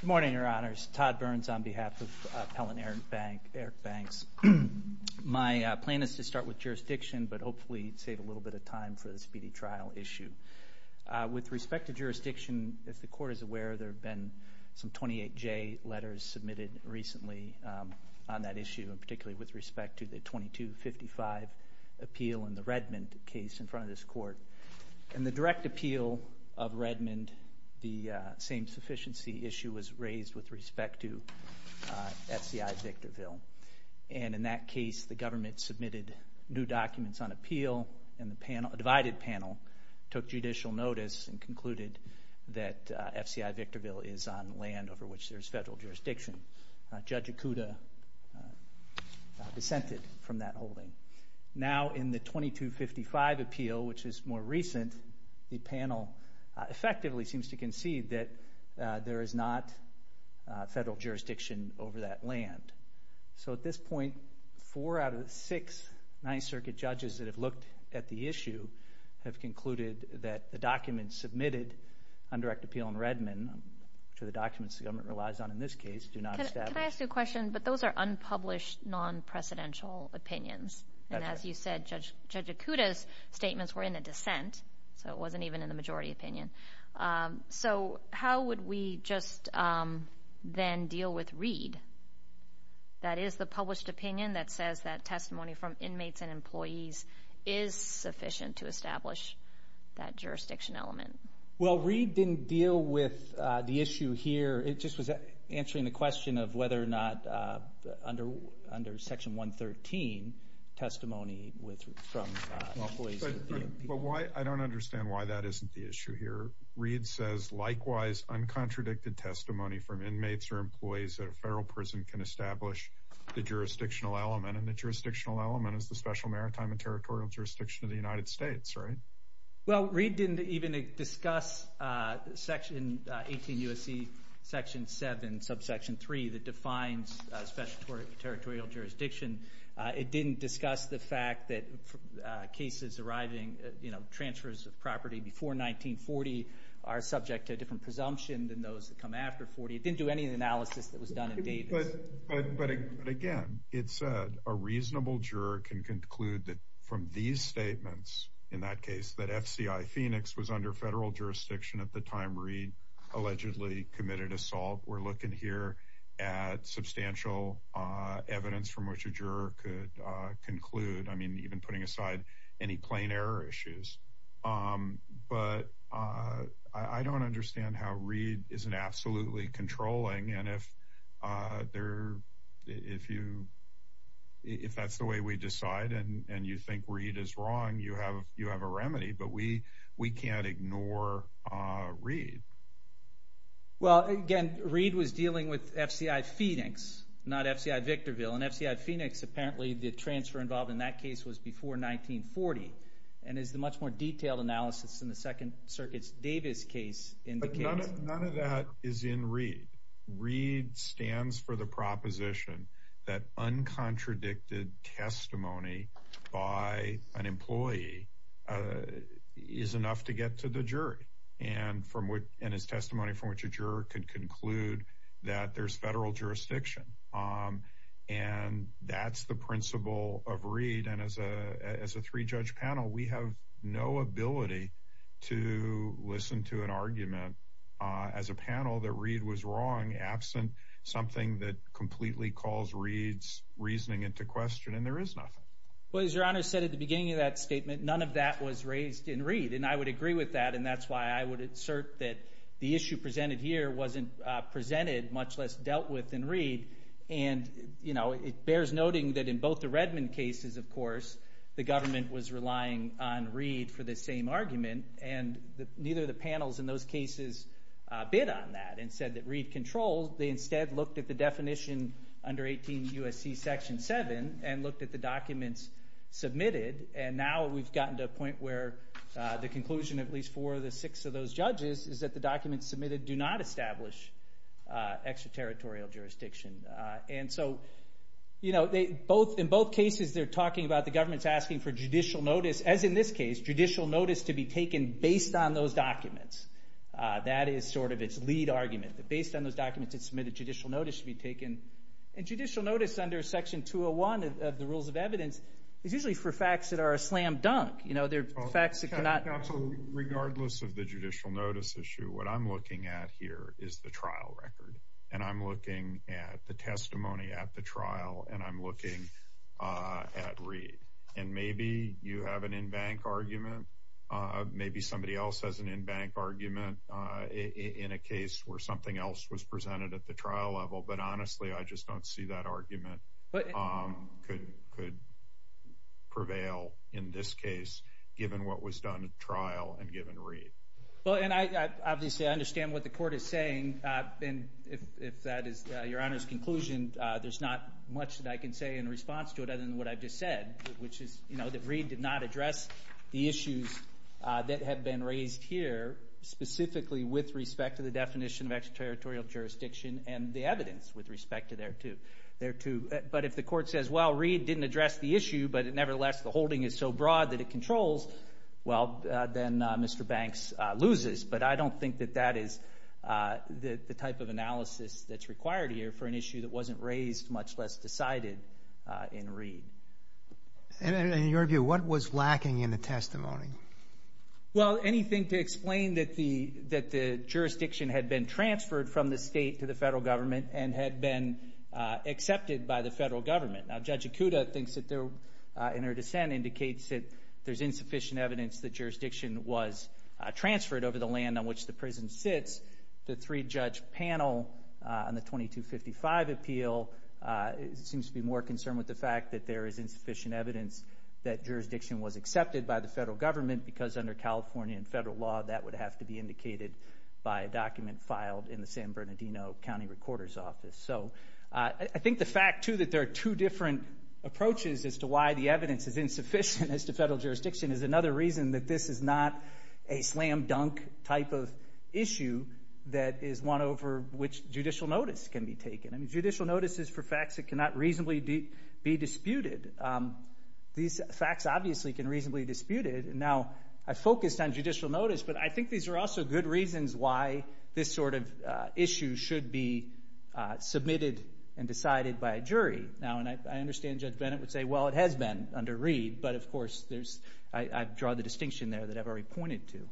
Good morning, Your Honors. Todd Burns on behalf of Pell and Eric Banks. My plan is to start with jurisdiction, but hopefully save a little bit of time for the speedy trial issue. With respect to jurisdiction, if the Court is aware, there have been some 28J letters submitted recently on that issue, particularly with respect to the 2255 appeal and the Redmond case in front of this Court. In the direct appeal of Redmond, the same sufficiency issue was raised with respect to FCI Victorville. And in that case, the government submitted new documents on appeal, and the panel, a divided panel, took judicial notice and concluded that FCI Victorville is on land over which there is federal jurisdiction. Judge Ikuda dissented from that holding. Now, in the 2255 appeal, which is more recent, the panel effectively seems to concede that there is not federal jurisdiction over that land. So at this point, four out of the six Ninth Circuit judges that have looked at the issue have concluded that the documents submitted on direct appeal in Redmond, which are the documents the government relies on in this case, do not establish. Can I ask you a question? But those are unpublished, non-precedential opinions. And as you said, Judge Ikuda's statements were in a dissent, so it wasn't even in the majority opinion. So how would we just then deal with Reed? That is the published opinion that says that testimony from inmates and employees is sufficient to establish that jurisdiction element. Well, Reed didn't deal with the issue here. It just was answering the question of whether or not under Section 113, testimony from employees... But I don't understand why that isn't the issue here. Reed says, likewise, uncontradicted testimony from inmates or employees at a federal prison can establish the jurisdictional element, and the jurisdictional element is the Special Maritime and Territorial Jurisdiction of the United States, right? Well, Reed didn't even discuss Section 18 U.S.C. Section 7, subsection 3, that defines Special Territorial Jurisdiction. It didn't discuss the fact that cases arriving, you know, transfers of property before 1940 are subject to a different presumption than those that come after 40. It didn't do any of the analysis that was done in Davis. But again, it's a reasonable juror can conclude that from these statements, in that case, that FCI Phoenix was under federal jurisdiction at the time Reed allegedly committed assault. We're looking here at substantial evidence from which a juror could conclude, I mean, even putting aside any plain error issues. But I don't understand how Reed isn't absolutely controlling. And if there... If you... If that's the way we decide and you think Reed is wrong, you have a remedy. But we can't ignore Reed. Well, again, Reed was dealing with FCI Phoenix, not FCI Victorville. And FCI Phoenix, apparently, the transfer involved in that case was before 1940. And as the much more detailed analysis in the Second Circuit's Davis case indicates... testimony by an employee is enough to get to the jury. And from what... And his testimony from which a juror could conclude that there's federal jurisdiction. And that's the principle of Reed. And as a three-judge panel, we have no ability to listen to an argument as a panel that Reed was wrong, absent something that completely calls Reed's reasoning into question. And there is nothing. Well, as Your Honor said at the beginning of that statement, none of that was raised in Reed. And I would agree with that. And that's why I would assert that the issue presented here wasn't presented, much less dealt with in Reed. And, you know, it bears noting that in both the Redmond cases, of course, the government was relying on Reed for the same argument. And neither of the panels in those cases bid on that and said that Reed controlled. They instead looked at the definition under 18 U.S.C. Section 7 and looked at the documents submitted. And now we've gotten to a point where the conclusion of at least four of the six of those judges is that the documents submitted do not establish extraterritorial jurisdiction. And so, you know, they both... In both cases, they're notice to be taken based on those documents. That is sort of its lead argument, that based on those documents that submitted, judicial notice should be taken. And judicial notice under Section 201 of the Rules of Evidence is usually for facts that are a slam dunk. You know, they're facts that cannot... Counsel, regardless of the judicial notice issue, what I'm looking at here is the trial record. And I'm looking at the testimony at the trial, and I'm looking at Reed. And maybe you have an in-bank argument. Maybe somebody else has an in-bank argument in a case where something else was presented at the trial level. But honestly, I just don't see that argument could prevail in this case, given what was done at the trial and given Reed. Well, and I obviously understand what the much that I can say in response to it other than what I've just said, which is, you know, that Reed did not address the issues that have been raised here specifically with respect to the definition of extraterritorial jurisdiction and the evidence with respect to thereto. But if the court says, well, Reed didn't address the issue, but nevertheless, the holding is so broad that it controls, well, then Mr. Banks loses. But I don't think that that has the type of analysis that's required here for an issue that wasn't raised, much less decided, in Reed. And in your view, what was lacking in the testimony? Well, anything to explain that the jurisdiction had been transferred from the state to the federal government and had been accepted by the federal government. Now, Judge Ikuda thinks that there in her dissent indicates that there's insufficient evidence that jurisdiction was transferred over the land on which the prison sits. The three-judge panel on the 2255 appeal seems to be more concerned with the fact that there is insufficient evidence that jurisdiction was accepted by the federal government, because under California and federal law, that would have to be indicated by a document filed in the San Bernardino County Recorder's Office. So I think the fact, too, that there are two different approaches as to why the evidence is insufficient as to federal jurisdiction is another reason that this is not a slam-dunk type of issue that is one over which judicial notice can be taken. I mean, judicial notice is for facts that cannot reasonably be disputed. These facts obviously can reasonably be disputed. Now, I focused on judicial notice, but I think these are also good reasons why this sort of issue should be submitted and decided by a jury. Now, and I understand Judge Bennett would say, well, it has been under Reid, but of course, I've drawn the distinction there that I've already pointed to.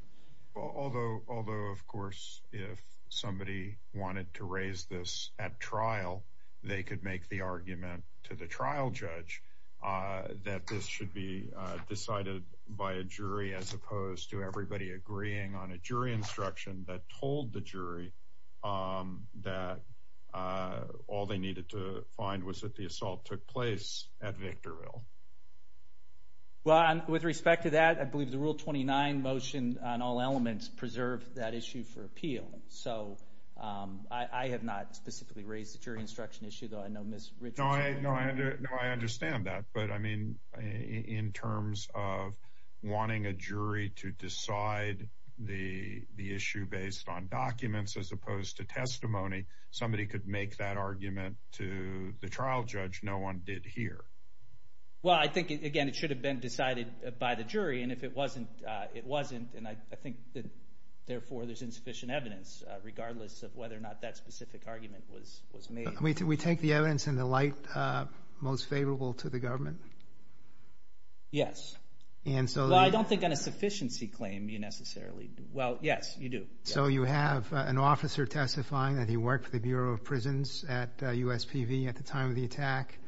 Although, of course, if somebody wanted to raise this at trial, they could make the argument to the trial judge that this should be decided by a jury as opposed to everybody agreeing on a jury instruction that told the jury that all they needed to find was that the assault took place at Victorville. Well, with respect to that, I believe the Rule 29 motion on all elements preserved that issue for appeal. So I have not specifically raised the jury instruction issue, though. I know Ms. Richards— No, I understand that. But, I mean, in terms of wanting a jury to decide the issue based on documents as opposed to testimony, somebody could make that argument to the trial judge no one did here. Well, I think, again, it should have been decided by the jury. And if it wasn't, it wasn't. And I think that, therefore, there's insufficient evidence, regardless of whether or not that specific argument was made. We take the evidence in the light most favorable to the government? Yes. Well, I don't think on a sufficiency claim you necessarily do. Well, yes, you do. So you have an officer testifying that he worked for the Bureau of Prisons at USPV at the time of the attack.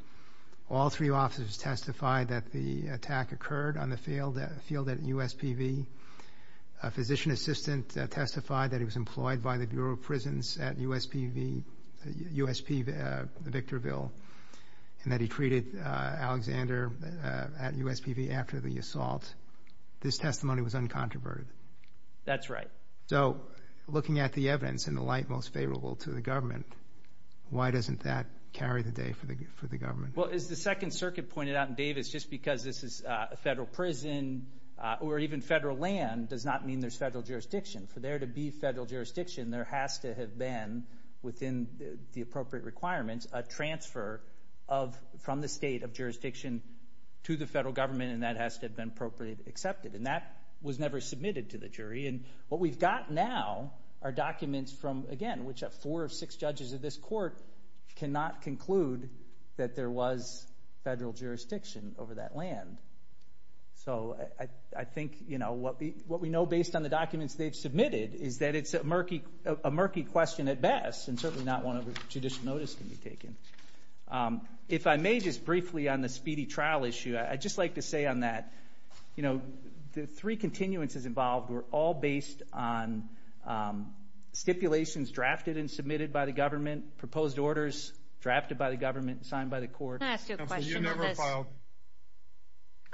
All three officers testified that the attack occurred on the field at USPV. A physician assistant testified that he was employed by the Bureau of Prisons at USPV, Victorville, and that he treated Alexander at USPV after the assault. This testimony was uncontroverted. That's right. So, looking at the evidence in the light most favorable to the government, why doesn't that carry the day for the government? Well, as the Second Circuit pointed out in Davis, just because this is a federal prison or even federal land does not mean there's federal jurisdiction. For there to be federal jurisdiction, there has to have been, within the appropriate requirements, a transfer from the state of jurisdiction to the federal government, and that has to have been appropriately accepted. And that was never submitted to the jury. And what we've got now are documents from, again, which four or six judges of this court cannot conclude that there was federal jurisdiction over that land. So, I think, you know, what we know based on the documents they've submitted is that it's a murky question at best, and certainly not one of which judicial notice can be taken. If I may just briefly on the speedy trial issue, I'd just like to say on that, you know, the three continuances involved were all based on stipulations drafted and submitted by the government, proposed orders drafted by the government and signed by the Go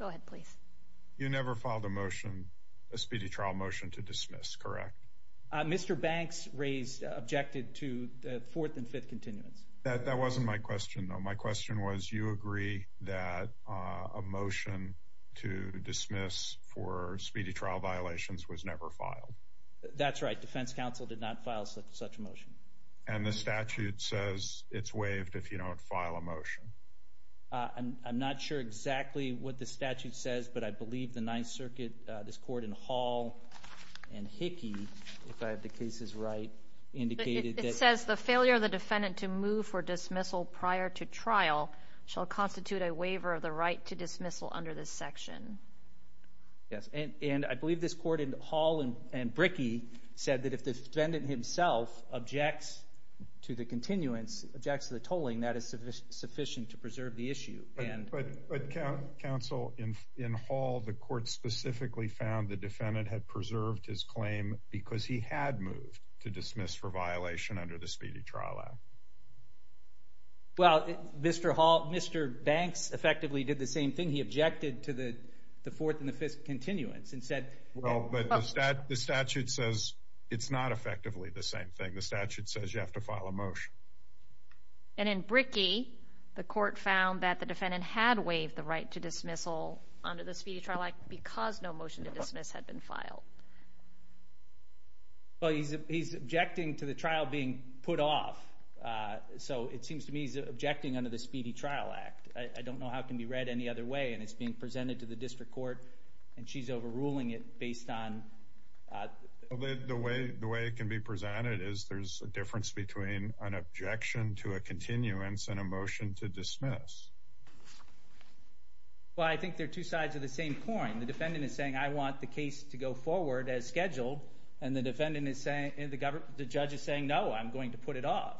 ahead, please. You never filed a motion, a speedy trial motion to dismiss, correct? Mr. Banks raised, objected to the fourth and fifth continuance. That wasn't my question, though. My question was, you agree that a motion to dismiss for speedy trial violations was never filed? That's right. Defense counsel did not file such a motion. And the statute says it's waived if you don't file a motion. I'm not sure exactly what the statute says, but I believe the Ninth Circuit, this court in Hall and Hickey, if I have the cases right, indicated that it says the failure of the defendant to move for dismissal prior to trial shall constitute a waiver of the right to dismissal under this section. Yes, and I believe this court in Hall and Bricky said that if the defendant himself objects to the continuance objects to the tolling, that is sufficient sufficient to preserve the issue. But Council in Hall, the court specifically found the defendant had preserved his claim because he had moved to dismiss for violation under the Speedy Trial Act. Well, Mr. Hall, Mr. Banks effectively did the same thing. He objected to the fourth and the fifth continuance and well, but the statute says it's not effectively the same thing. The statute says you have to file a motion. And in Bricky, the court found that the defendant had waived the right to dismissal under the Speedy Trial Act because no motion to dismiss had been filed. Well, he's he's objecting to the trial being put off. So it seems to me he's objecting under the Speedy Trial Act. I don't know how it can be read any other way, and it's being it based on the way the way it can be presented is there's a difference between an objection to a continuance and a motion to dismiss. Well, I think they're two sides of the same coin. The defendant is saying, I want the case to go forward as scheduled, and the defendant is saying the judge is saying, No, I'm going to put it off.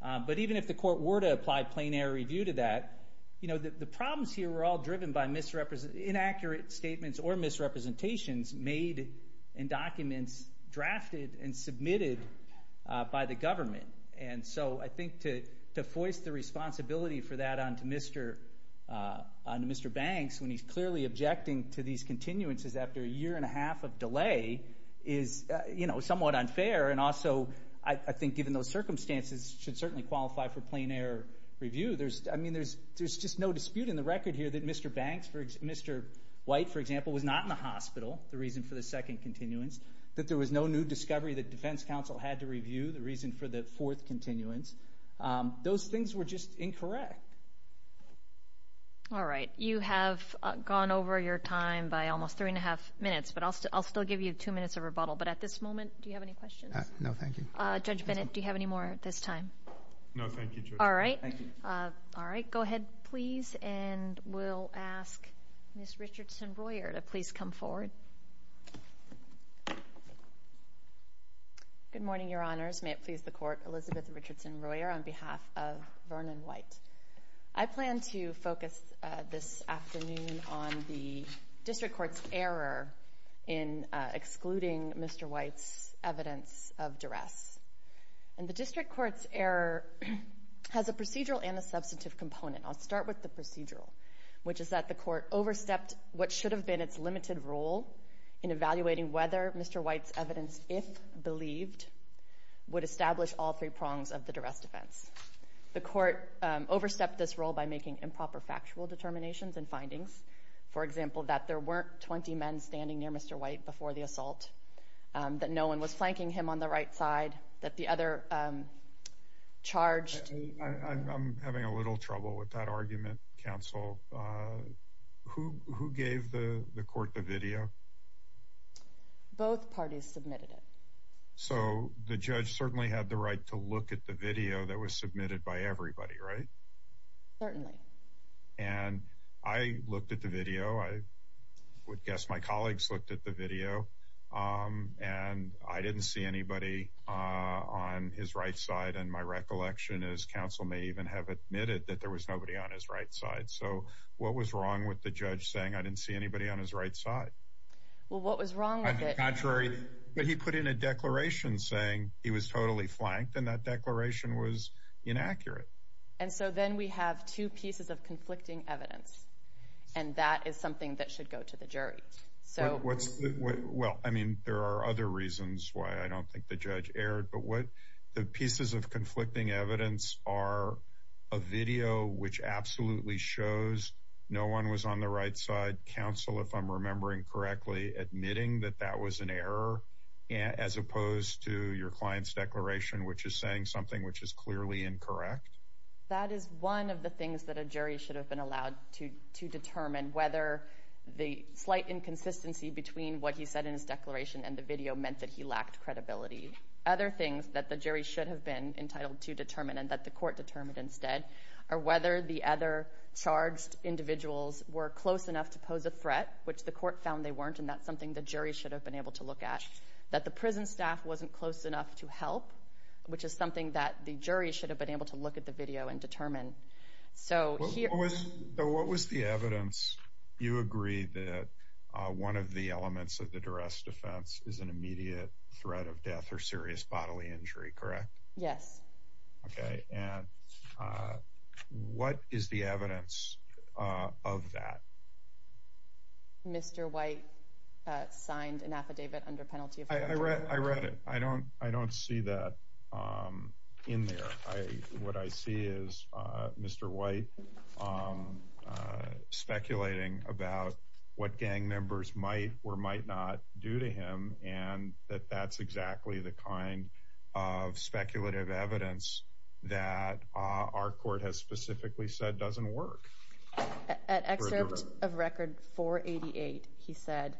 But even if the court were to apply plain air review to that, you know, the problems here were all driven by inaccurate statements or misrepresentations made in documents drafted and submitted by the government. And so I think to voice the responsibility for that on to Mr. Banks when he's clearly objecting to these continuances after a year and a half of delay is, you know, somewhat unfair. And also, I think given those circumstances should certainly qualify for plain air review. I mean, there's just no dispute in the record here that Mr. Banks, Mr. White, for example, was not in the hospital, the reason for the second continuance, that there was no new discovery that defense counsel had to review, the reason for the fourth continuance. Those things were just incorrect. All right. You have gone over your time by almost three and a half minutes, but I'll still give you two minutes of rebuttal. But at this moment, do you have any questions? No, thank you. Judge Bennett, do you have any more at this time? No, thank you, Judge. All right. Thank you. All right. Go ahead, please. And we'll ask Ms. Richardson-Royer to please come forward. Good morning, Your Honors. May it please the Court, Elizabeth Richardson-Royer on behalf of Vernon White. I plan to focus this afternoon on the district court's error in excluding Mr. White's evidence of duress. And the district court's error has a procedural and a substantive component. I'll start with the procedural, which is that the Court overstepped what should have been its limited role in evaluating whether Mr. White's evidence, if believed, would establish all three prongs of the duress defense. The Court overstepped this role by making improper factual determinations and findings, for example, that there weren't 20 men standing near Mr. White during the assault, that no one was flanking him on the right side, that the other charged... I'm having a little trouble with that argument, Counsel. Who gave the Court the video? Both parties submitted it. So the judge certainly had the right to look at the video that was submitted by everybody, right? Certainly. And I looked at the video. I would guess my colleagues looked at the video. And I didn't see anybody on his right side. And my recollection is Counsel may even have admitted that there was nobody on his right side. So what was wrong with the judge saying I didn't see anybody on his right side? Well, what was wrong with it? But he put in a declaration saying he was totally flanked, and that declaration was inaccurate. And so then we have two pieces of conflicting evidence, and that is something that should go to the jury. Well, I mean, there are other reasons why I don't think the judge erred, but the pieces of conflicting evidence are a video which absolutely shows no one was on the right side, Counsel, if I'm remembering correctly, admitting that that was an error, as opposed to your client's declaration, which is saying something which is clearly incorrect? That is one of the things that a jury should have been allowed to determine, whether the slight inconsistency between what he said in his declaration and the video meant that he lacked credibility. Other things that the jury should have been entitled to determine and that the court determined instead are whether the other charged individuals were close enough to pose a threat, which the court found they weren't, and that's something the jury should have been able to look at, that the prison staff wasn't close enough to help, which is something that the jury should have been able to look at the video and determine. So what was the evidence? You agree that one of the elements of the duress defense is an immediate threat of death or serious bodily injury, correct? Yes. Okay. And what is the evidence of that? Mr. White signed an affidavit under penalty of murder. I read it. I don't see that in there. What I see is Mr. White speculating about what gang members might or might not do to him, and that that's exactly the kind of speculative evidence that our court has specifically said doesn't work. At excerpt of record 488, he said...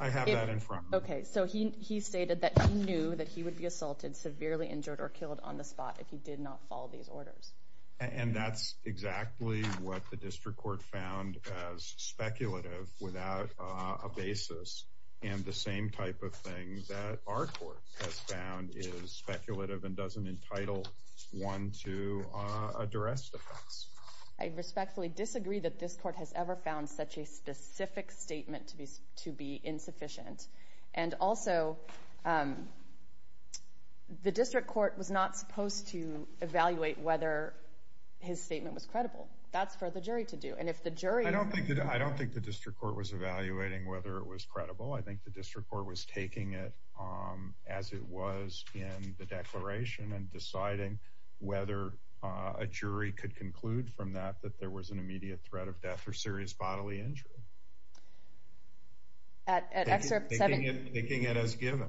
I have that in front of me. Okay. So he stated that he knew that he would be assaulted, severely injured, or killed on the spot if he did not follow these orders. And that's exactly what the district court found as speculative without a basis, and the same type of thing that our court has found is speculative and doesn't entitle one to a duress defense. I respectfully disagree that this court has ever found such a specific statement to be insufficient. And also, the district court was not supposed to evaluate whether his statement was credible. That's for the jury to do. And if the jury... I think the district court was taking it as it was in the declaration and deciding whether a jury could conclude from that that there was an immediate threat of death or serious bodily injury. Taking it as given.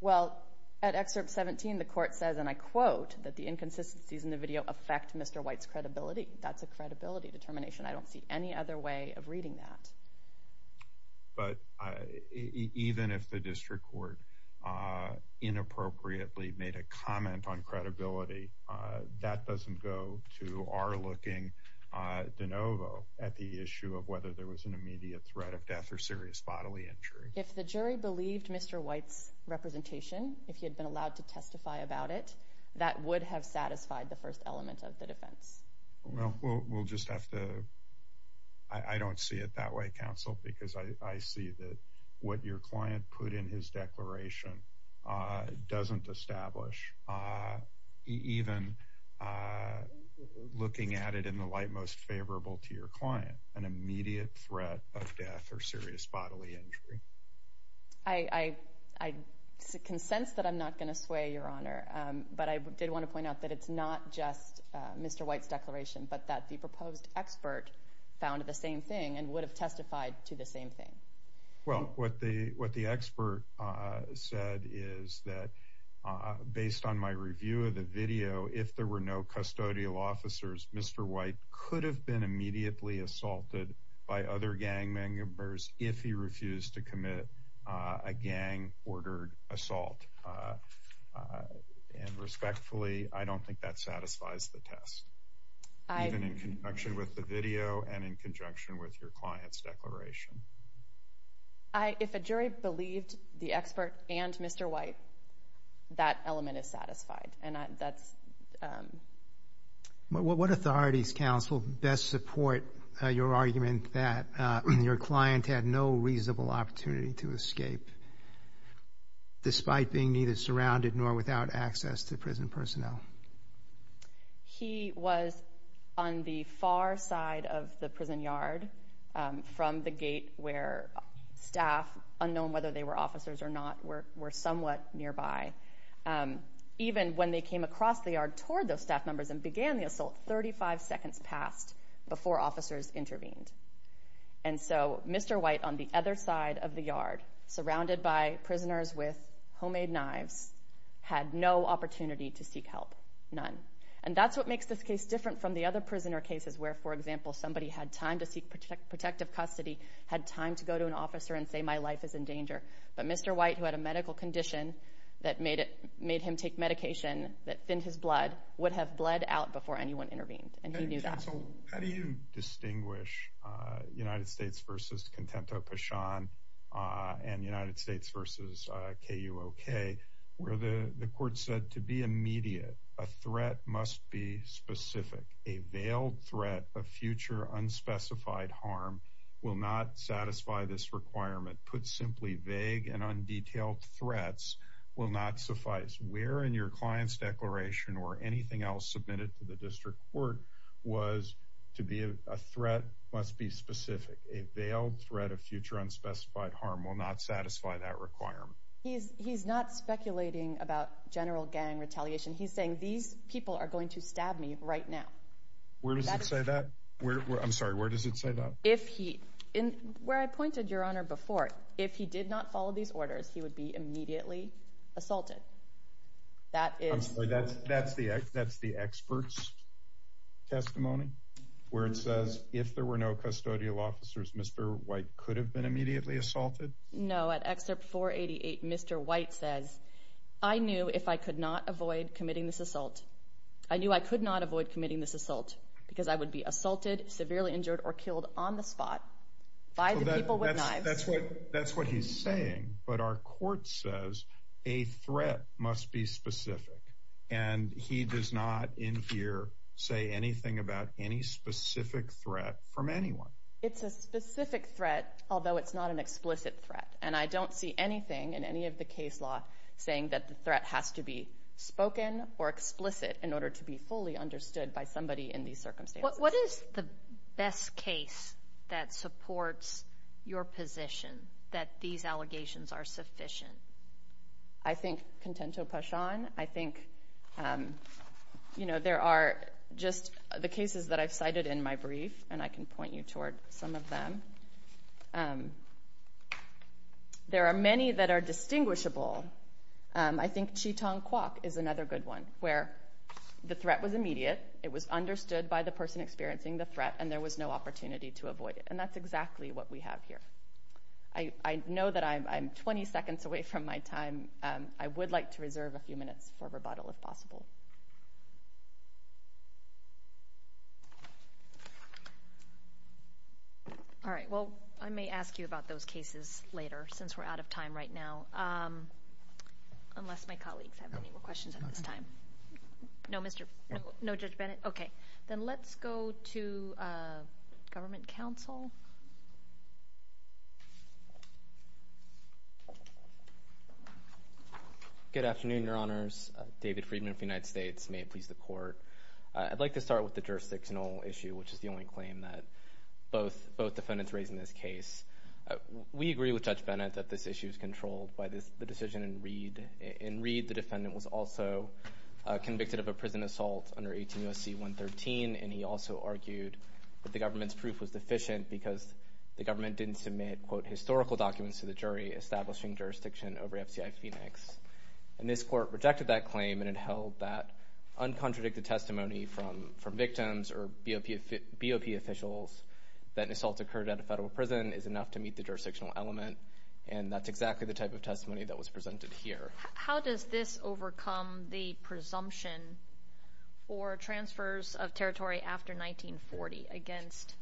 Well, at excerpt 17, the court says, and I quote, that the inconsistencies in the video affect Mr. White's credibility. That's a credibility determination. I don't see any other way of reading that. But even if the district court inappropriately made a comment on credibility, that doesn't go to our looking de novo at the issue of whether there was an immediate threat of death or serious bodily injury. If the jury believed Mr. White's representation, if he had been allowed to testify about it, that would have satisfied the first element of the defense. Well, we'll just have to... I don't see it that way, counsel, because I see that what your client put in his declaration doesn't establish, even looking at it in the light most favorable to your client, an immediate threat of death or serious bodily injury. I can sense that I'm not going to sway, Your Honor. But I did want to point out that it's not just Mr. White's declaration, but that the proposed expert found the same thing and would have testified to the same thing. Well, what the expert said is that based on my review of the video, if there were no custodial officers, Mr. White could have been immediately assaulted by other gang members if he refused to commit a gang-ordered assault. And respectfully, I don't think that satisfies the test, even in conjunction with the video and in conjunction with your client's declaration. If a jury believed the expert and Mr. White, that element is satisfied, and that's... What authorities, counsel, best support your argument that your client had no reasonable opportunity to escape, despite being neither surrounded nor without access to prison personnel? He was on the far side of the prison yard, from the gate where staff, unknown whether they were officers or not, were somewhat nearby. Even when they came across the yard toward those staff members and began the assault, 35 seconds passed before officers intervened. And so Mr. White, on the other side of the yard, surrounded by prisoners with homemade knives, had no opportunity to seek help, none. And that's what makes this case different from the other prisoner cases where, for example, somebody had time to seek protective custody, had time to go to an officer and say, my life is in danger. But Mr. White, who had a medical condition that made him take medication that thinned his blood, would have bled out before anyone intervened. And he knew that. Counsel, how do you distinguish United States v. Contento-Pachon and United States v. KUOK, where the court said, to be immediate, a threat must be specific. A veiled threat of future unspecified harm will not satisfy this requirement. Put simply, vague and undetailed threats will not suffice. Where in your client's declaration or anything else submitted to the district court was to be a threat must be specific. A veiled threat of future unspecified harm will not satisfy that requirement. He's not speculating about general gang retaliation. He's saying, these people are going to stab me right now. Where does it say that? I'm sorry, where does it say that? Where I pointed, Your Honor, before, if he did not follow these orders, he would be immediately assaulted. I'm sorry, that's the expert's testimony? Where it says, if there were no custodial officers, Mr. White could have been immediately assaulted? No, at excerpt 488, Mr. White says, I knew if I could not avoid committing this assault, I knew I could not avoid committing this assault, because I would be assaulted, severely injured, or killed on the spot by the people with knives. That's what he's saying, but our court says, a threat must be specific. And he does not in here say anything about any specific threat from anyone. It's a specific threat, although it's not an explicit threat, and I don't see anything in any of the case law saying that the threat has to be spoken or explicit in order to be fully understood by somebody in these circumstances. What is the best case that supports your position, that these allegations are sufficient? I think, contento passione, I think there are just the cases that I've cited in my brief, and I can point you toward some of them. There are many that are distinguishable. I think Cheetong Kwok is another good one, where the threat was immediate, it was understood by the person experiencing the threat, and there was no opportunity to avoid it. And that's exactly what we have here. I know that I'm 20 seconds away from my time. I would like to reserve a few minutes for rebuttal, if possible. All right, well, I may ask you about those cases later, since we're out of time right now, unless my colleagues have any more questions at this time. No, Judge Bennett? Okay, then let's go to Government Counsel. Good afternoon, Your Honors. David Friedman of the United States. May it please the Court. I'd like to start with the jurisdictional issue, which is the only claim that both defendants raised in this case. We agree with Judge Bennett that this issue is controlled by the decision in Reed. In Reed, the defendant was also convicted of a prison assault under 18 U.S.C. 113, and he also argued that the government's proof was deficient because the government didn't submit, quote, historical documents to the jury establishing jurisdiction over FCI Phoenix. And this Court rejected that claim and it held that uncontradicted testimony from victims or BOP officials that an assault occurred at a federal prison is enough to meet the jurisdictional element, and that's exactly the type of testimony that was presented here. How does this overcome the presumption for transfers of territory after 1940 against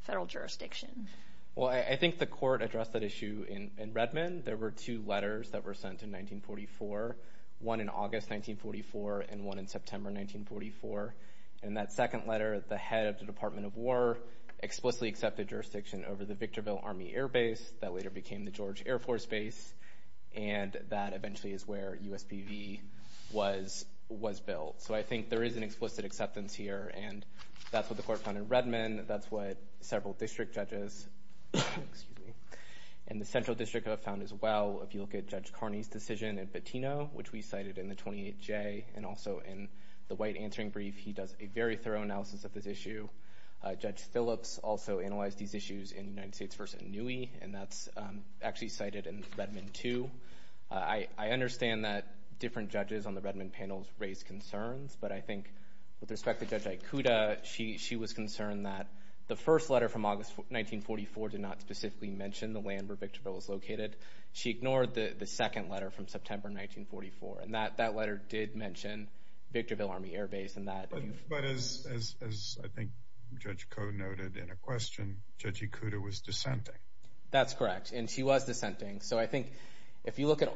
federal jurisdiction? Well, I think the Court addressed that issue in Redmond. There were two letters that were sent in 1944, one in August 1944 and one in September 1944. In that second letter, the head of the Department of War explicitly accepted jurisdiction over the Victorville Army Air Base that later became the George Air Force Base, and that eventually is where USPV was built. So I think there is an explicit acceptance here, and that's what the Court found in Redmond, that's what several district judges in the Central District have found as well. If you look at Judge Carney's decision in Patino, which we cited in the 28J, and also in the White Answering Brief, he does a very thorough analysis of this issue. Judge Phillips also analyzed these issues in United States v. Inouye, and that's actually cited in Redmond too. I understand that different judges on the Redmond panel raised concerns, but I think with respect to Judge Ikuda, she was concerned that the first letter from August 1944 did not specifically mention the land where Victorville was located. She ignored the second letter from September 1944, and that letter did mention Victorville Army Air Base. But as I think Judge Koh noted in a question, Judge Ikuda was dissenting. That's correct, and she was dissenting. So I think if you look at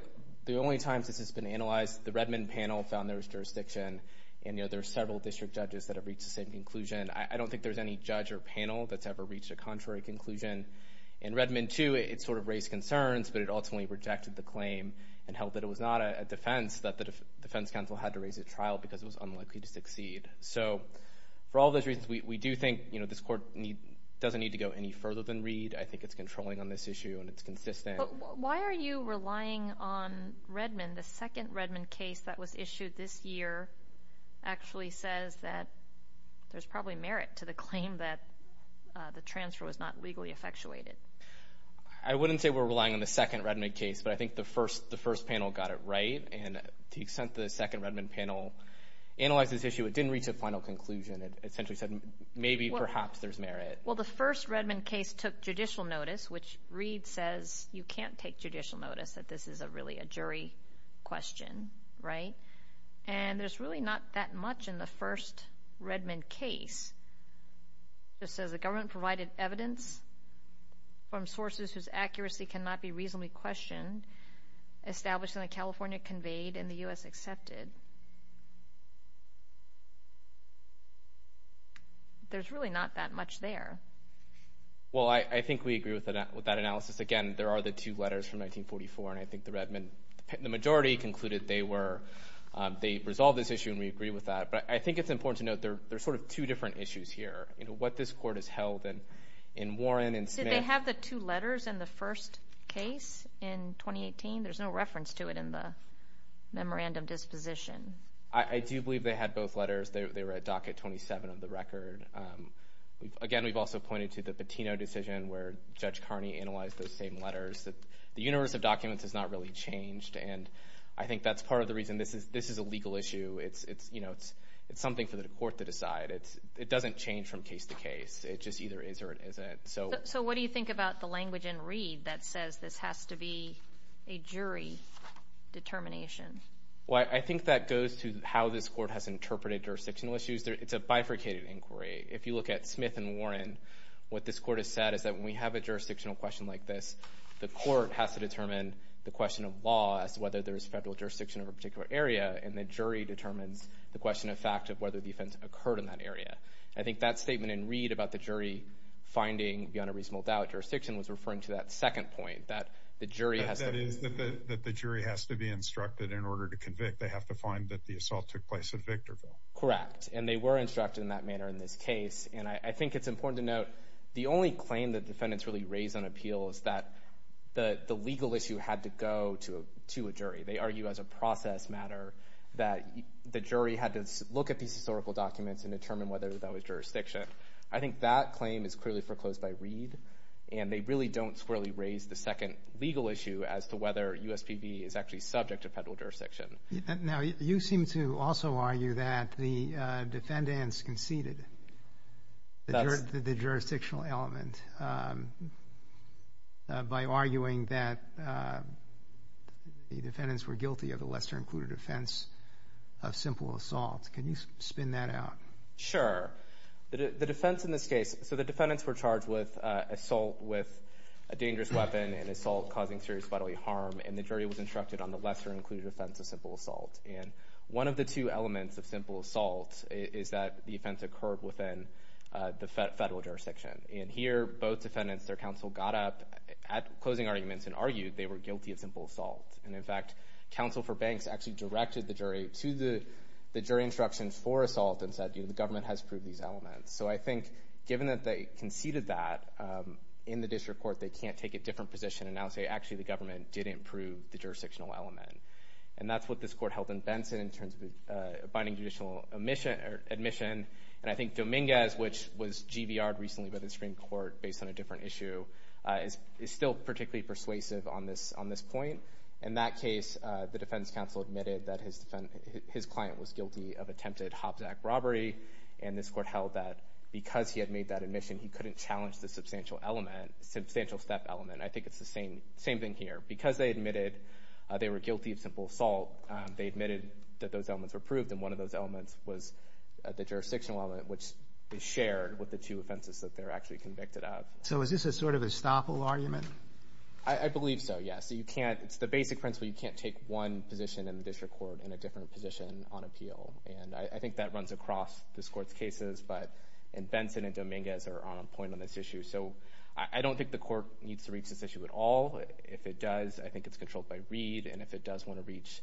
the only times this has been analyzed, the Redmond panel found there was jurisdiction, and there are several district judges that have reached the same conclusion. I don't think there's any judge or panel that's ever reached a contrary conclusion. In Redmond too, it sort of raised concerns, but it ultimately rejected the claim and held that it was not a defense, that the defense counsel had to raise a trial because it was unlikely to succeed. So for all those reasons, we do think this court doesn't need to go any further than Reed. I think it's controlling on this issue, and it's consistent. But why are you relying on Redmond? The second Redmond case that was issued this year actually says that there's probably merit to the claim that the transfer was not legally effectuated. I wouldn't say we're relying on the second Redmond case, but I think the first panel got it right, and to the extent the second Redmond panel analyzed this issue, it didn't reach a final conclusion. It essentially said maybe perhaps there's merit. Well, the first Redmond case took judicial notice, which Reed says you can't take judicial notice that this is really a jury question, right? And there's really not that much in the first Redmond case. It says the government provided evidence from sources whose accuracy cannot be reasonably questioned, established in the California Conveyed and the U.S. Accepted. There's really not that much there. Well, I think we agree with that analysis. Again, there are the two letters from 1944, and I think the majority concluded they resolved this issue, and we agree with that. But I think it's important to note there are sort of two different issues here, what this court has held in Warren and Smith. Did they have the two letters in the first case in 2018? There's no reference to it in the memorandum disposition. I do believe they had both letters. They were at docket 27 of the record. Again, we've also pointed to the Patino decision where Judge Carney analyzed those same letters. The universe of documents has not really changed, and I think that's part of the reason this is a legal issue. It's something for the court to decide. It doesn't change from case to case. It just either is or it isn't. So what do you think about the language in Reed that says this has to be a jury determination? I think that goes to how this court has interpreted jurisdictional issues. It's a bifurcated inquiry. If you look at Smith and Warren, what this court has said is that when we have a jurisdictional question like this, the court has to determine the question of law as to whether there's federal jurisdiction of a particular area, and the jury determines the question of fact of whether the offense occurred in that area. I think that statement in Reed about the jury finding beyond a reasonable doubt jurisdiction was referring to that second point, that the jury has to— That is, that the jury has to be instructed in order to convict. They have to find that the assault took place at Victorville. Correct, and they were instructed in that manner in this case, and I think it's important to note the only claim that defendants really raise on appeal is that the legal issue had to go to a jury. They argue as a process matter that the jury had to look at these historical documents and determine whether that was jurisdiction. I think that claim is clearly foreclosed by Reed, and they really don't squarely raise the second legal issue as to whether USPB is actually subject to federal jurisdiction. Now, you seem to also argue that the defendants conceded the jurisdictional element by arguing that the defendants were guilty of a lesser-included offense of simple assault. Can you spin that out? Sure. The defense in this case—so the defendants were charged with assault with a dangerous weapon and assault causing serious bodily harm, and the jury was instructed on the lesser-included offense of simple assault. And one of the two elements of simple assault is that the offense occurred within the federal jurisdiction. And here, both defendants, their counsel got up at closing arguments and argued they were guilty of simple assault. And, in fact, counsel for Banks actually directed the jury to the jury instruction for assault and said, you know, the government has proved these elements. So I think, given that they conceded that, in the district court, they can't take a different position and now say, actually, the government did improve the jurisdictional element. And that's what this court held in Benson in terms of abiding judicial admission. And I think Dominguez, which was GBR'd recently by the Supreme Court based on a different issue, is still particularly persuasive on this point. In that case, the defense counsel admitted that his client was guilty of attempted Hobbs Act robbery, and this court held that because he had made that admission, he couldn't challenge the substantial step element. I think it's the same thing here. Because they admitted they were guilty of simple assault, they admitted that those elements were proved, and one of those elements was the jurisdictional element, which is shared with the two offenses that they're actually convicted of. So is this a sort of estoppel argument? I believe so, yes. It's the basic principle. You can't take one position in the district court and a different position on appeal. And I think that runs across this court's cases. But Benson and Dominguez are on a point on this issue. So I don't think the court needs to reach this issue at all. If it does, I think it's controlled by Reed. And if it does want to reach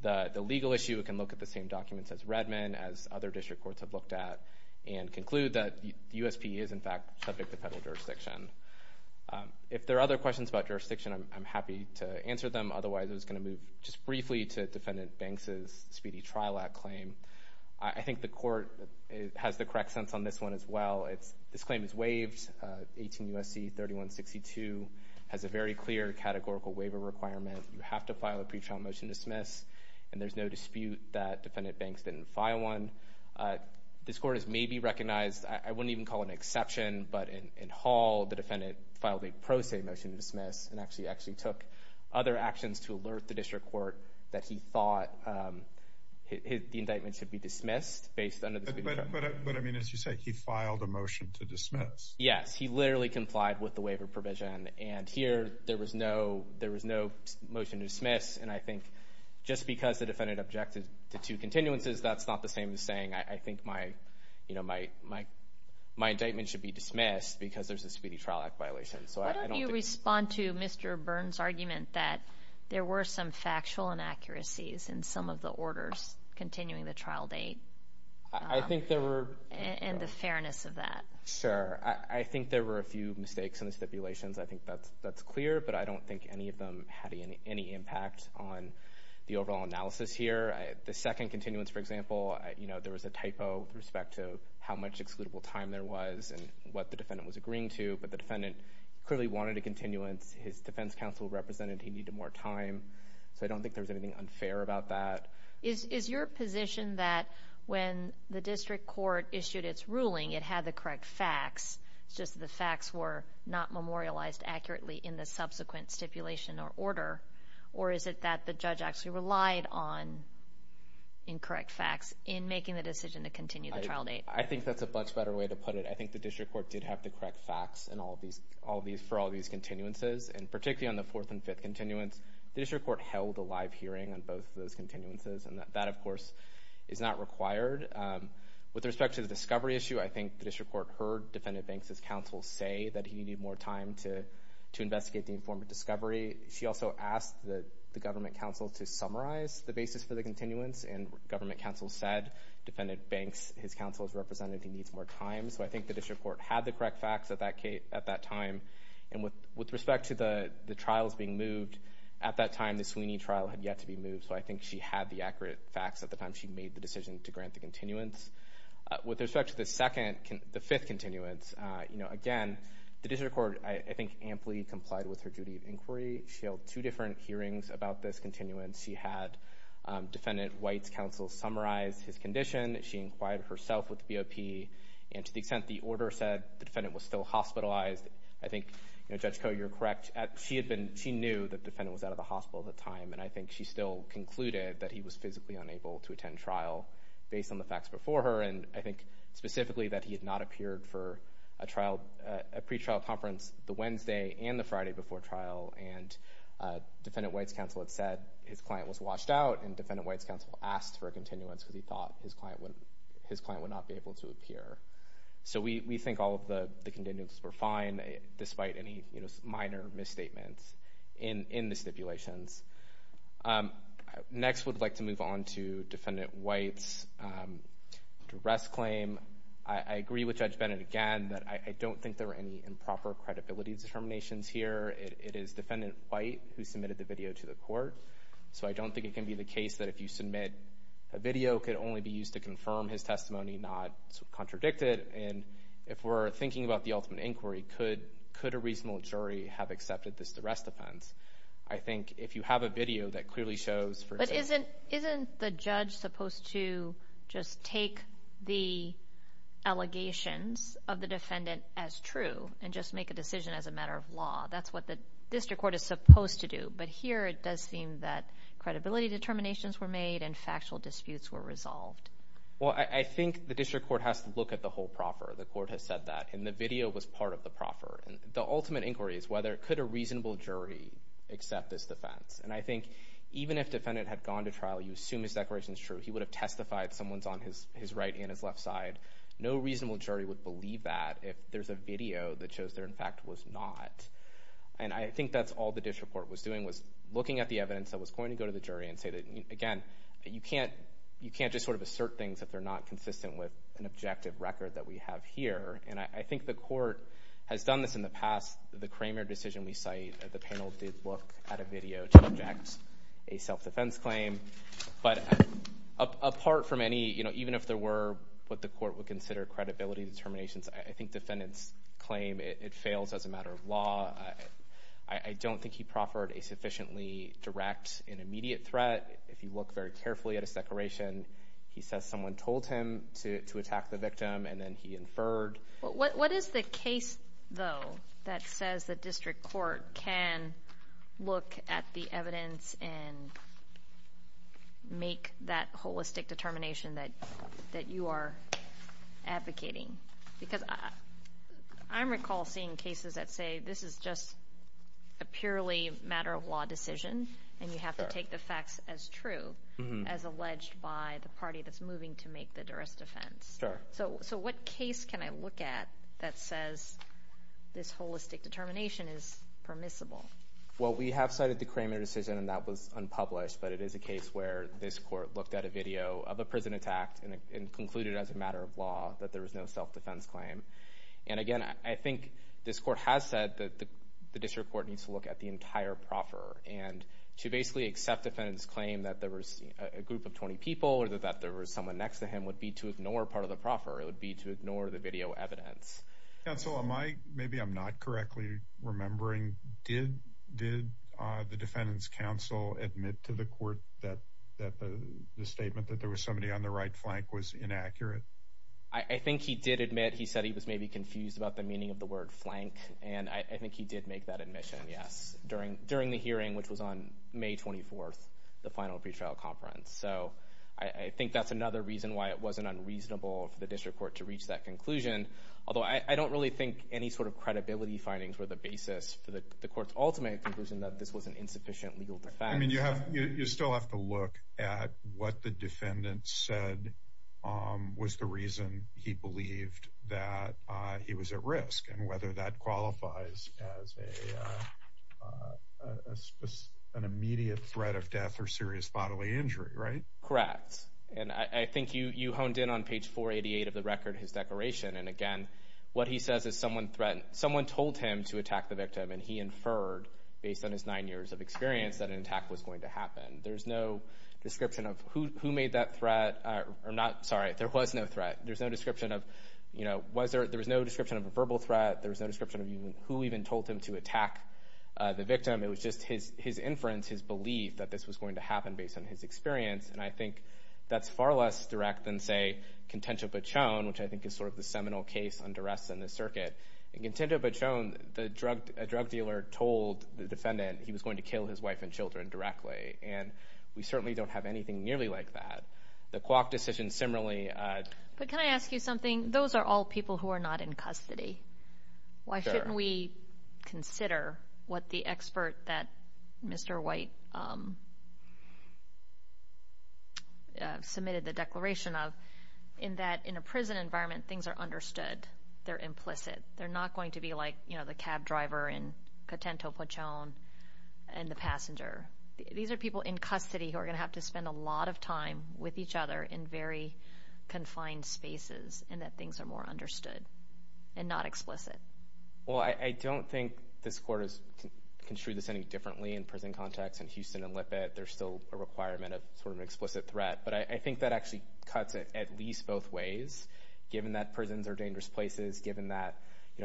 the legal issue, it can look at the same documents as Redmond, as other district courts have looked at, and conclude that USP is, in fact, subject to federal jurisdiction. If there are other questions about jurisdiction, I'm happy to answer them. Otherwise, I was going to move just briefly to Defendant Banks' Speedy Trial Act claim. I think the court has the correct sense on this one as well. This claim is waived. 18 U.S.C. 3162 has a very clear categorical waiver requirement. You have to file a pretrial motion to dismiss, and there's no dispute that Defendant Banks didn't file one. This court has maybe recognized, I wouldn't even call it an exception, but in Hall, the defendant filed a pro se motion to dismiss and actually took other actions to alert the district court that he thought the indictment should be dismissed. But, I mean, as you say, he filed a motion to dismiss. Yes, he literally complied with the waiver provision, and here there was no motion to dismiss, and I think just because the defendant objected to two continuances, that's not the same as saying I think my indictment should be dismissed because there's a Speedy Trial Act violation. Why don't you respond to Mr. Byrne's argument that there were some factual inaccuracies in some of the orders continuing the trial date and the fairness of that? Sure. I think there were a few mistakes in the stipulations. I think that's clear, but I don't think any of them had any impact on the overall analysis here. The second continuance, for example, there was a typo with respect to how much excludable time there was and what the defendant was agreeing to, but the defendant clearly wanted a continuance. His defense counsel represented he needed more time, so I don't think there was anything unfair about that. Is your position that when the district court issued its ruling, it had the correct facts, it's just the facts were not memorialized accurately in the subsequent stipulation or order, or is it that the judge actually relied on incorrect facts in making the decision to continue the trial date? I think that's a much better way to put it. I think the district court did have the correct facts for all these continuances, and particularly on the fourth and fifth continuance, the district court held a live hearing on both of those continuances, and that, of course, is not required. With respect to the discovery issue, I think the district court heard defendant bank's counsel say that he needed more time to investigate the informed discovery. She also asked the government counsel to summarize the basis for the continuance, and government counsel said defendant bank's counsel represented he needs more time, so I think the district court had the correct facts at that time, and with respect to the trials being moved, at that time the Sweeney trial had yet to be moved, so I think she had the accurate facts at the time she made the decision to grant the continuance. With respect to the fifth continuance, again, the district court, I think, amply complied with her duty of inquiry. She held two different hearings about this continuance. She had defendant White's counsel summarize his condition. She inquired herself with BOP, and to the extent the order said the defendant was still hospitalized, I think, Judge Koh, you're correct. She knew the defendant was out of the hospital at the time, and I think she still concluded that he was physically unable to attend trial based on the facts before her, and I think specifically that he had not appeared for a pretrial conference the Wednesday and the Friday before trial, and defendant White's counsel had said his client was washed out, and defendant White's counsel asked for a continuance because he thought his client would not be able to appear. So we think all of the continuances were fine, despite any minor misstatements in the stipulations. Next, I would like to move on to defendant White's arrest claim. I agree with Judge Bennett again that I don't think there were any improper credibility determinations here. It is defendant White who submitted the video to the court, so I don't think it can be the case that if you submit a video, it could only be used to confirm his testimony, not contradict it, and if we're thinking about the ultimate inquiry, could a reasonable jury have accepted this arrest offense? I think if you have a video that clearly shows, for example— Isn't the judge supposed to just take the allegations of the defendant as true and just make a decision as a matter of law? That's what the district court is supposed to do, but here it does seem that credibility determinations were made and factual disputes were resolved. Well, I think the district court has to look at the whole proffer. The court has said that, and the video was part of the proffer. The ultimate inquiry is whether could a reasonable jury accept this defense, and I think even if defendant had gone to trial, you assume his declaration is true. He would have testified someone's on his right and his left side. No reasonable jury would believe that if there's a video that shows there, in fact, was not, and I think that's all the district court was doing was looking at the evidence that was going to go to the jury and say that, again, you can't just sort of assert things if they're not consistent with an objective record that we have here, and I think the court has done this in the past. The Kramer decision we cite, the panel did look at a video to object a self-defense claim, but apart from any, even if there were what the court would consider credibility determinations, I think defendant's claim, it fails as a matter of law. I don't think he proffered a sufficiently direct and immediate threat. If you look very carefully at his declaration, he says someone told him to attack the victim, and then he inferred. What is the case, though, that says the district court can look at the evidence and make that holistic determination that you are advocating? Because I recall seeing cases that say this is just a purely matter-of-law decision, and you have to take the facts as true as alleged by the party that's moving to make the duress defense. Sure. So what case can I look at that says this holistic determination is permissible? Well, we have cited the Kramer decision, and that was unpublished, but it is a case where this court looked at a video of a prison attack and concluded as a matter of law that there was no self-defense claim. Again, I think this court has said that the district court needs to look at the entire proffer, and to basically accept defendant's claim that there was a group of 20 people or that there was someone next to him would be to ignore part of the proffer. It would be to ignore the video evidence. Counsel, maybe I'm not correctly remembering. Did the defendant's counsel admit to the court that the statement that there was somebody on the right flank was inaccurate? I think he did admit. He said he was maybe confused about the meaning of the word flank, and I think he did make that admission, yes, during the hearing, which was on May 24th, the final pretrial conference. So I think that's another reason why it wasn't unreasonable for the district court to reach that conclusion, although I don't really think any sort of credibility findings were the basis for the court's ultimate conclusion that this was an insufficient legal defense. You still have to look at what the defendant said was the reason he believed that he was at risk and whether that qualifies as an immediate threat of death or serious bodily injury, right? Correct, and I think you honed in on page 488 of the record, his declaration, and again, what he says is someone told him to attack the victim, and he inferred, based on his nine years of experience, that an attack was going to happen. There's no description of who made that threat. I'm sorry, there was no threat. There was no description of a verbal threat. There was no description of who even told him to attack the victim. It was just his inference, his belief that this was going to happen based on his experience, and I think that's far less direct than, say, Contento Pachon, which I think is sort of the seminal case on duress in this circuit. In Contento Pachon, a drug dealer told the defendant he was going to kill his wife and children directly, and we certainly don't have anything nearly like that. The Kwok decision similarly. But can I ask you something? Those are all people who are not in custody. Why shouldn't we consider what the expert that Mr. White submitted the declaration of, in that in a prison environment, things are understood. They're implicit. They're not going to be like the cab driver in Contento Pachon and the passenger. These are people in custody who are going to have to spend a lot of time with each other in very confined spaces in that things are more understood and not explicit. Well, I don't think this court has construed this any differently in prison context. In Houston and Lippitt, there's still a requirement of sort of an explicit threat, but I think that actually cuts it at least both ways, given that prisons are dangerous places, given that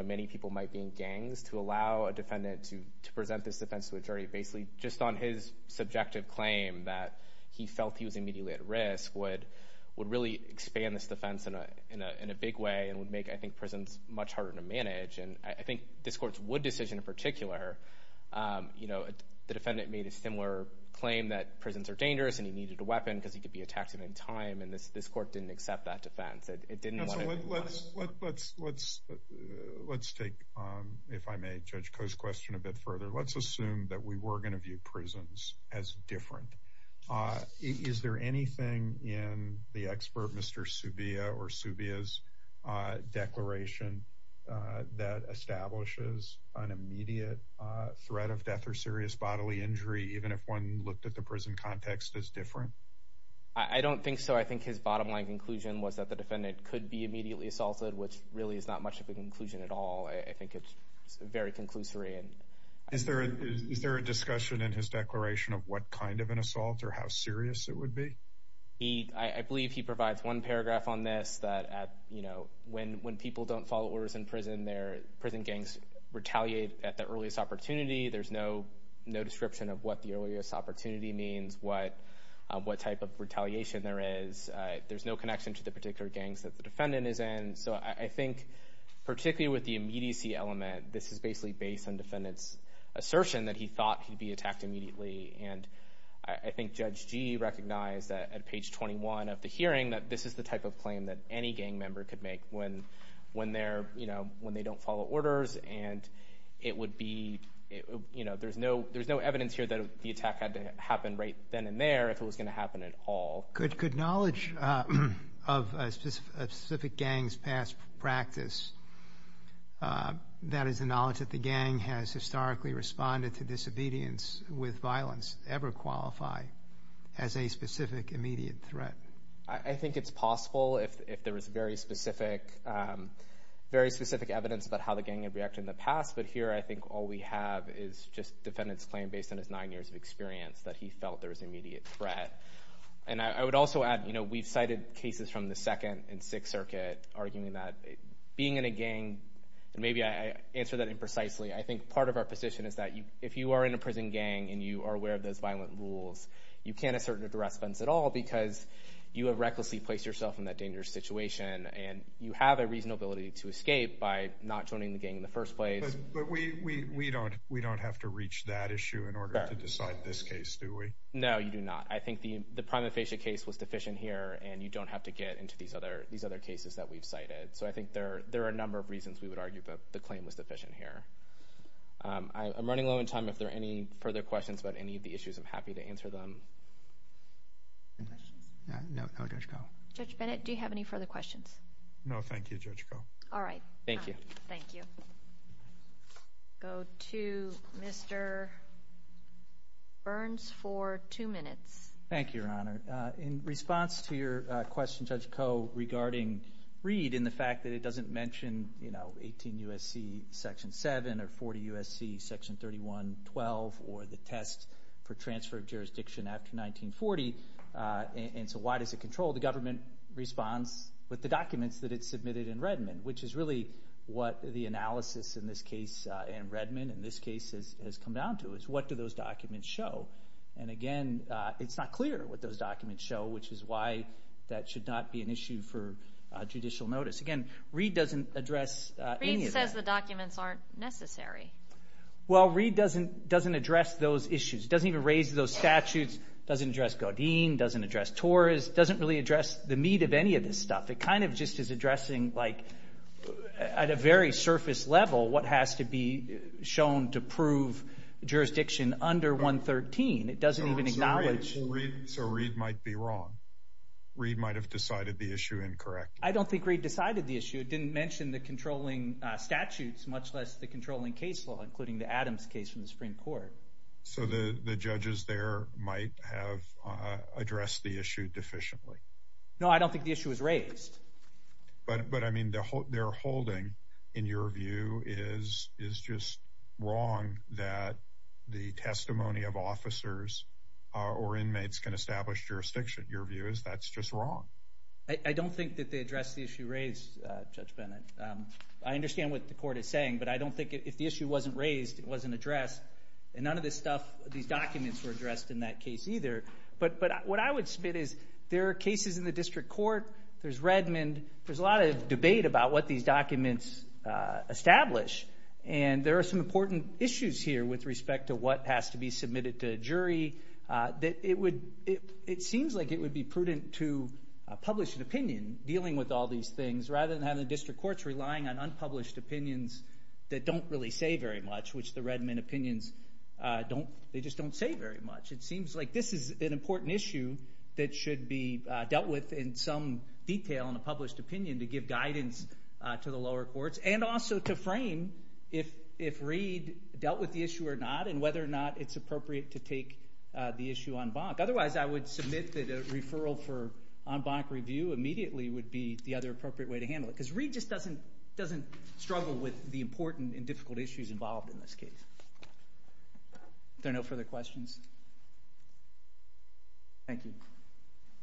many people might be in gangs, to allow a defendant to present this defense to a jury basically just on his subjective claim that he felt he was immediately at risk would really expand this defense in a big way and would make, I think, prisons much harder to manage. And I think this court's Wood decision in particular, the defendant made a similar claim that prisons are dangerous and he needed a weapon because he could be attacked at any time, and this court didn't accept that defense. Let's take, if I may, Judge Koh's question a bit further. Let's assume that we were going to view prisons as different. Is there anything in the expert Mr. Subia or Subia's declaration that establishes an immediate threat of death or serious bodily injury, even if one looked at the prison context as different? I don't think so. I think his bottom line conclusion was that the defendant could be immediately assaulted, which really is not much of a conclusion at all. I think it's very conclusory. Is there a discussion in his declaration of what kind of an assault or how serious it would be? I believe he provides one paragraph on this, that when people don't follow orders in prison, their prison gangs retaliate at the earliest opportunity. There's no description of what the earliest opportunity means, what type of retaliation there is. There's no connection to the particular gangs that the defendant is in. So I think, particularly with the immediacy element, this is basically based on the defendant's assertion that he thought he'd be attacked immediately, and I think Judge Gee recognized at page 21 of the hearing that this is the type of claim that any gang member could make when they don't follow orders, and there's no evidence here that the attack had to happen right then and there if it was going to happen at all. Could knowledge of a specific gang's past practice—that is, the knowledge that the gang has historically responded to disobedience with violence—ever qualify as a specific immediate threat? I think it's possible if there is very specific evidence about how the gang had reacted in the past, but here I think all we have is just the defendant's claim, based on his nine years of experience, that he felt there was immediate threat. And I would also add we've cited cases from the Second and Sixth Circuit arguing that being in a gang— and maybe I answered that imprecisely—I think part of our position is that if you are in a prison gang and you are aware of those violent rules, you can't assert an arrest fence at all because you have recklessly placed yourself in that dangerous situation, and you have a reasonable ability to escape by not joining the gang in the first place. But we don't have to reach that issue in order to decide this case, do we? No, you do not. I think the prima facie case was deficient here, and you don't have to get into these other cases that we've cited. So I think there are a number of reasons we would argue that the claim was deficient here. I'm running low on time. If there are any further questions about any of the issues, I'm happy to answer them. Judge Bennett, do you have any further questions? No, thank you, Judge Koh. All right. Thank you. Thank you. Thank you, Your Honor. In response to your question, Judge Koh, regarding Reed and the fact that it doesn't mention, you know, 18 U.S.C. Section 7 or 40 U.S.C. Section 31-12 or the test for transfer of jurisdiction after 1940, and so why does it control the government response with the documents that it submitted in Redmond, which is really what the analysis in this case and Redmond in this case has come down to, is what do those documents show? And, again, it's not clear what those documents show, which is why that should not be an issue for judicial notice. Again, Reed doesn't address any of that. Reed says the documents aren't necessary. Well, Reed doesn't address those issues. It doesn't even raise those statutes. It doesn't address Godin. It doesn't address Torres. It doesn't really address the meat of any of this stuff. It kind of just is addressing, like, at a very surface level, what has to be shown to prove jurisdiction under 113. It doesn't even acknowledge. So Reed might be wrong. Reed might have decided the issue incorrectly. I don't think Reed decided the issue. It didn't mention the controlling statutes, much less the controlling case law, including the Adams case from the Supreme Court. So the judges there might have addressed the issue deficiently. No, I don't think the issue was raised. But, I mean, their holding, in your view, is just wrong that the testimony of officers or inmates can establish jurisdiction. Your view is that's just wrong. I don't think that they addressed the issue raised, Judge Bennett. I understand what the court is saying, but I don't think if the issue wasn't raised, it wasn't addressed. And none of this stuff, these documents, were addressed in that case either. But what I would submit is there are cases in the district court, there's Redmond, there's a lot of debate about what these documents establish, and there are some important issues here with respect to what has to be submitted to a jury. It seems like it would be prudent to publish an opinion, dealing with all these things, rather than have the district courts relying on unpublished opinions that don't really say very much, which the Redmond opinions, they just don't say very much. It seems like this is an important issue that should be dealt with in some detail in a published opinion to give guidance to the lower courts, and also to frame if Reed dealt with the issue or not, and whether or not it's appropriate to take the issue en banc. Otherwise, I would submit that a referral for en banc review immediately would be the other appropriate way to handle it, because Reed just doesn't struggle with the important and difficult issues involved in this case. Are there no further questions? Thank you.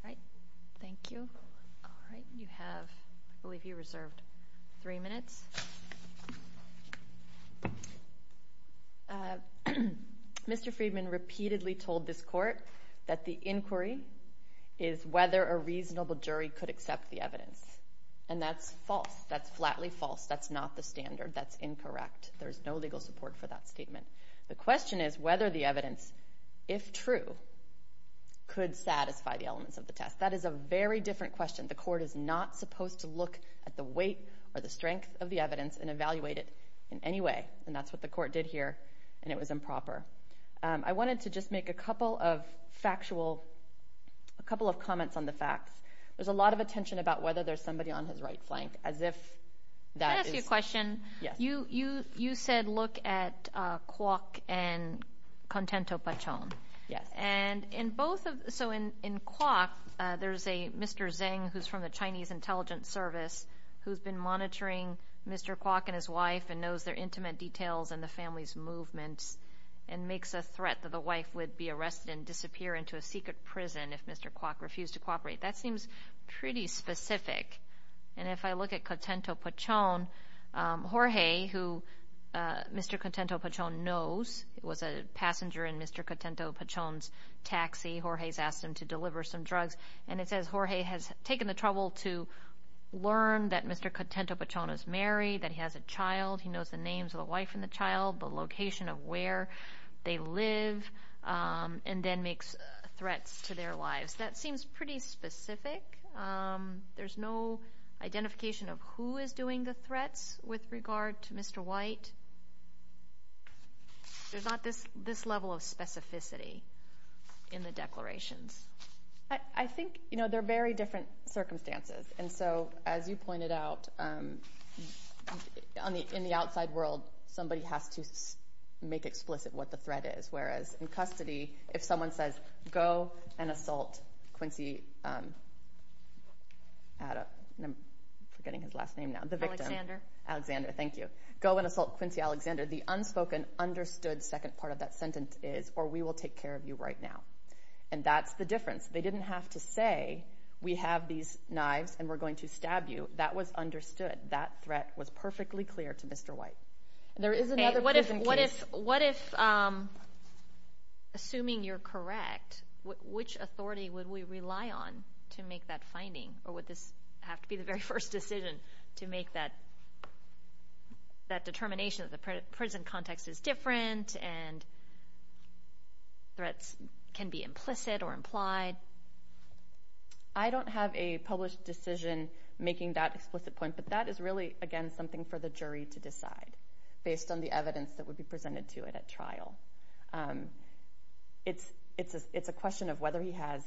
All right. Thank you. All right, you have, I believe you reserved three minutes. Mr. Friedman repeatedly told this court that the inquiry is whether a reasonable jury could accept the evidence, and that's false. That's flatly false. That's not the standard. That's incorrect. There's no legal support for that statement. The question is whether the evidence, if true, could satisfy the elements of the test. That is a very different question. The court is not supposed to look at the weight or the strength of the evidence and evaluate it in any way, and that's what the court did here, and it was improper. I wanted to just make a couple of factual, a couple of comments on the facts. There's a lot of attention about whether there's somebody on his right flank, as if that is... You said look at Kwok and Contento-Pachon. Yes. And in both of, so in Kwok, there's a Mr. Zheng, who's from the Chinese Intelligence Service, who's been monitoring Mr. Kwok and his wife and knows their intimate details and the family's movements and makes a threat that the wife would be arrested and disappear into a secret prison if Mr. Kwok refused to cooperate. That seems pretty specific. And if I look at Contento-Pachon, Jorge, who Mr. Contento-Pachon knows, was a passenger in Mr. Contento-Pachon's taxi. Jorge's asked him to deliver some drugs, and it says Jorge has taken the trouble to learn that Mr. Contento-Pachon is married, that he has a child. He knows the names of the wife and the child, the location of where they live, and then makes threats to their lives. That seems pretty specific. There's no identification of who is doing the threats with regard to Mr. White. There's not this level of specificity in the declarations. I think, you know, they're very different circumstances. And so, as you pointed out, in the outside world, somebody has to make explicit what the threat is, in custody, if someone says, go and assault Quincy, I'm forgetting his last name now, the victim. Alexander. Alexander, thank you. Go and assault Quincy Alexander. The unspoken, understood second part of that sentence is, or we will take care of you right now. And that's the difference. They didn't have to say, we have these knives and we're going to stab you. That was understood. That threat was perfectly clear to Mr. White. There is another prison case. What if, assuming you're correct, which authority would we rely on to make that finding, or would this have to be the very first decision to make that determination that the prison context is different and threats can be implicit or implied? I don't have a published decision making that explicit point, but that is really, again, something for the jury to decide, based on the evidence that would be presented to it at trial. It's a question of whether he has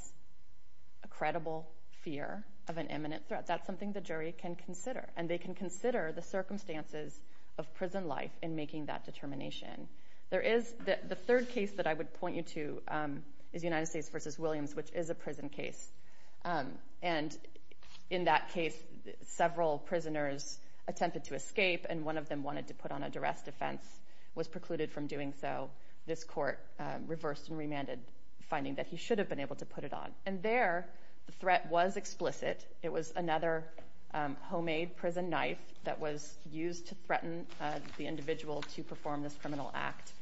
a credible fear of an imminent threat. That's something the jury can consider. And they can consider the circumstances of prison life in making that determination. The third case that I would point you to is United States v. Williams, which is a prison case. And in that case, several prisoners attempted to escape and one of them wanted to put on a duress defense, was precluded from doing so. This court reversed and remanded, finding that he should have been able to put it on. And there, the threat was explicit. It was another homemade prison knife that was used to threaten the individual to perform this criminal act.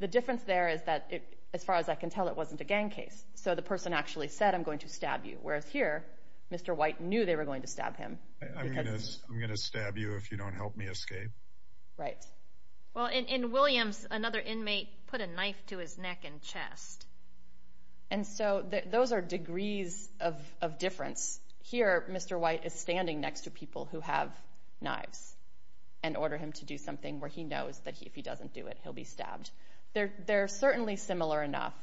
The difference there is that, as far as I can tell, it wasn't a gang case. So the person actually said, I'm going to stab you. Whereas here, Mr. White knew they were going to stab him. I'm going to stab you if you don't help me escape. Right. Well, in Williams, another inmate put a knife to his neck and chest. And so those are degrees of difference. Here, Mr. White is standing next to people who have knives and order him to do something where he knows that if he doesn't do it, he'll be stabbed. They're certainly similar enough.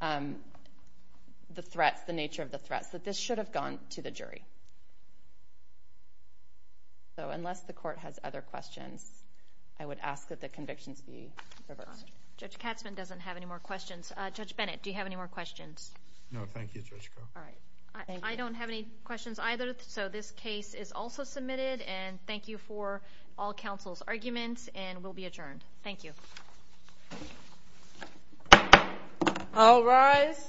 The threats, the nature of the threats, that this should have gone to the jury. So unless the court has other questions, I would ask that the convictions be reversed. Judge Katzman doesn't have any more questions. Judge Bennett, do you have any more questions? No, thank you, Judge Crowe. I don't have any questions either, so this case is also submitted. And thank you for all counsel's arguments, and will be adjourned. Thank you. All rise.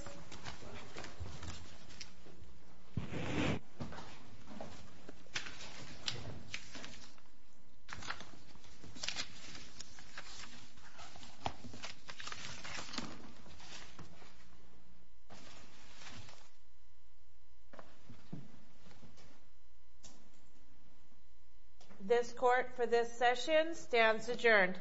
This court for this session stands adjourned.